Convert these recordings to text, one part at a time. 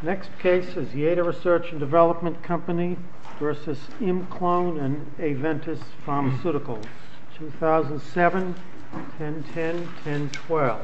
Next case is Yeda Research and Development Company v. Imclone and Aventis Pharmaceuticals, 2007, 1010-1012.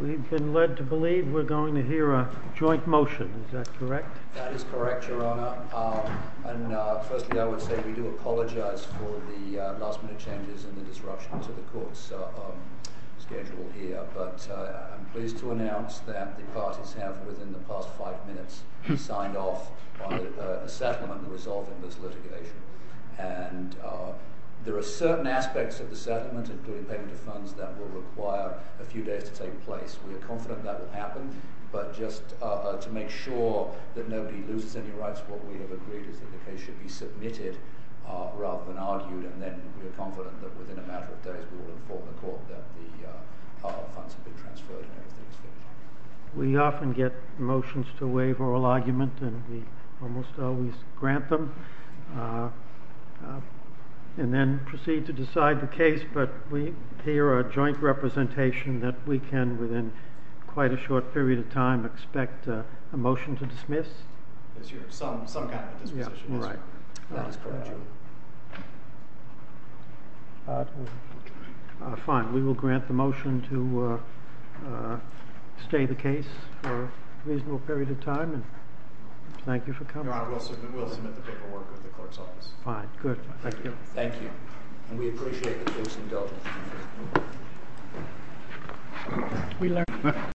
We've been led to believe we're going to hear a joint motion. Is that correct? That is correct, Your Honor. And firstly, I would say we do apologize for the last-minute changes and the disruption to the Court's schedule here. But I'm pleased to announce that the parties have, within the past five minutes, signed off on a settlement resolving this litigation. And there are certain aspects of the settlement, including payment of funds, that will require a few days to take place. We are confident that will happen. But just to make sure that nobody loses any rights, what we have agreed is that the case should be submitted rather than argued. And then we are confident that within a matter of days we will inform the Court that the funds have been transferred and everything is finished. We often get motions to waive oral argument, and we almost always grant them, and then proceed to decide the case. But we hear a joint representation that we can, within quite a short period of time, expect a motion to dismiss. Some kind of a dismissal. Fine. We will grant the motion to stay the case for a reasonable period of time, and thank you for coming. Your Honor, we'll submit the paperwork with the Court's office. Fine. Good. Thank you. Thank you. And we appreciate the case indulgence.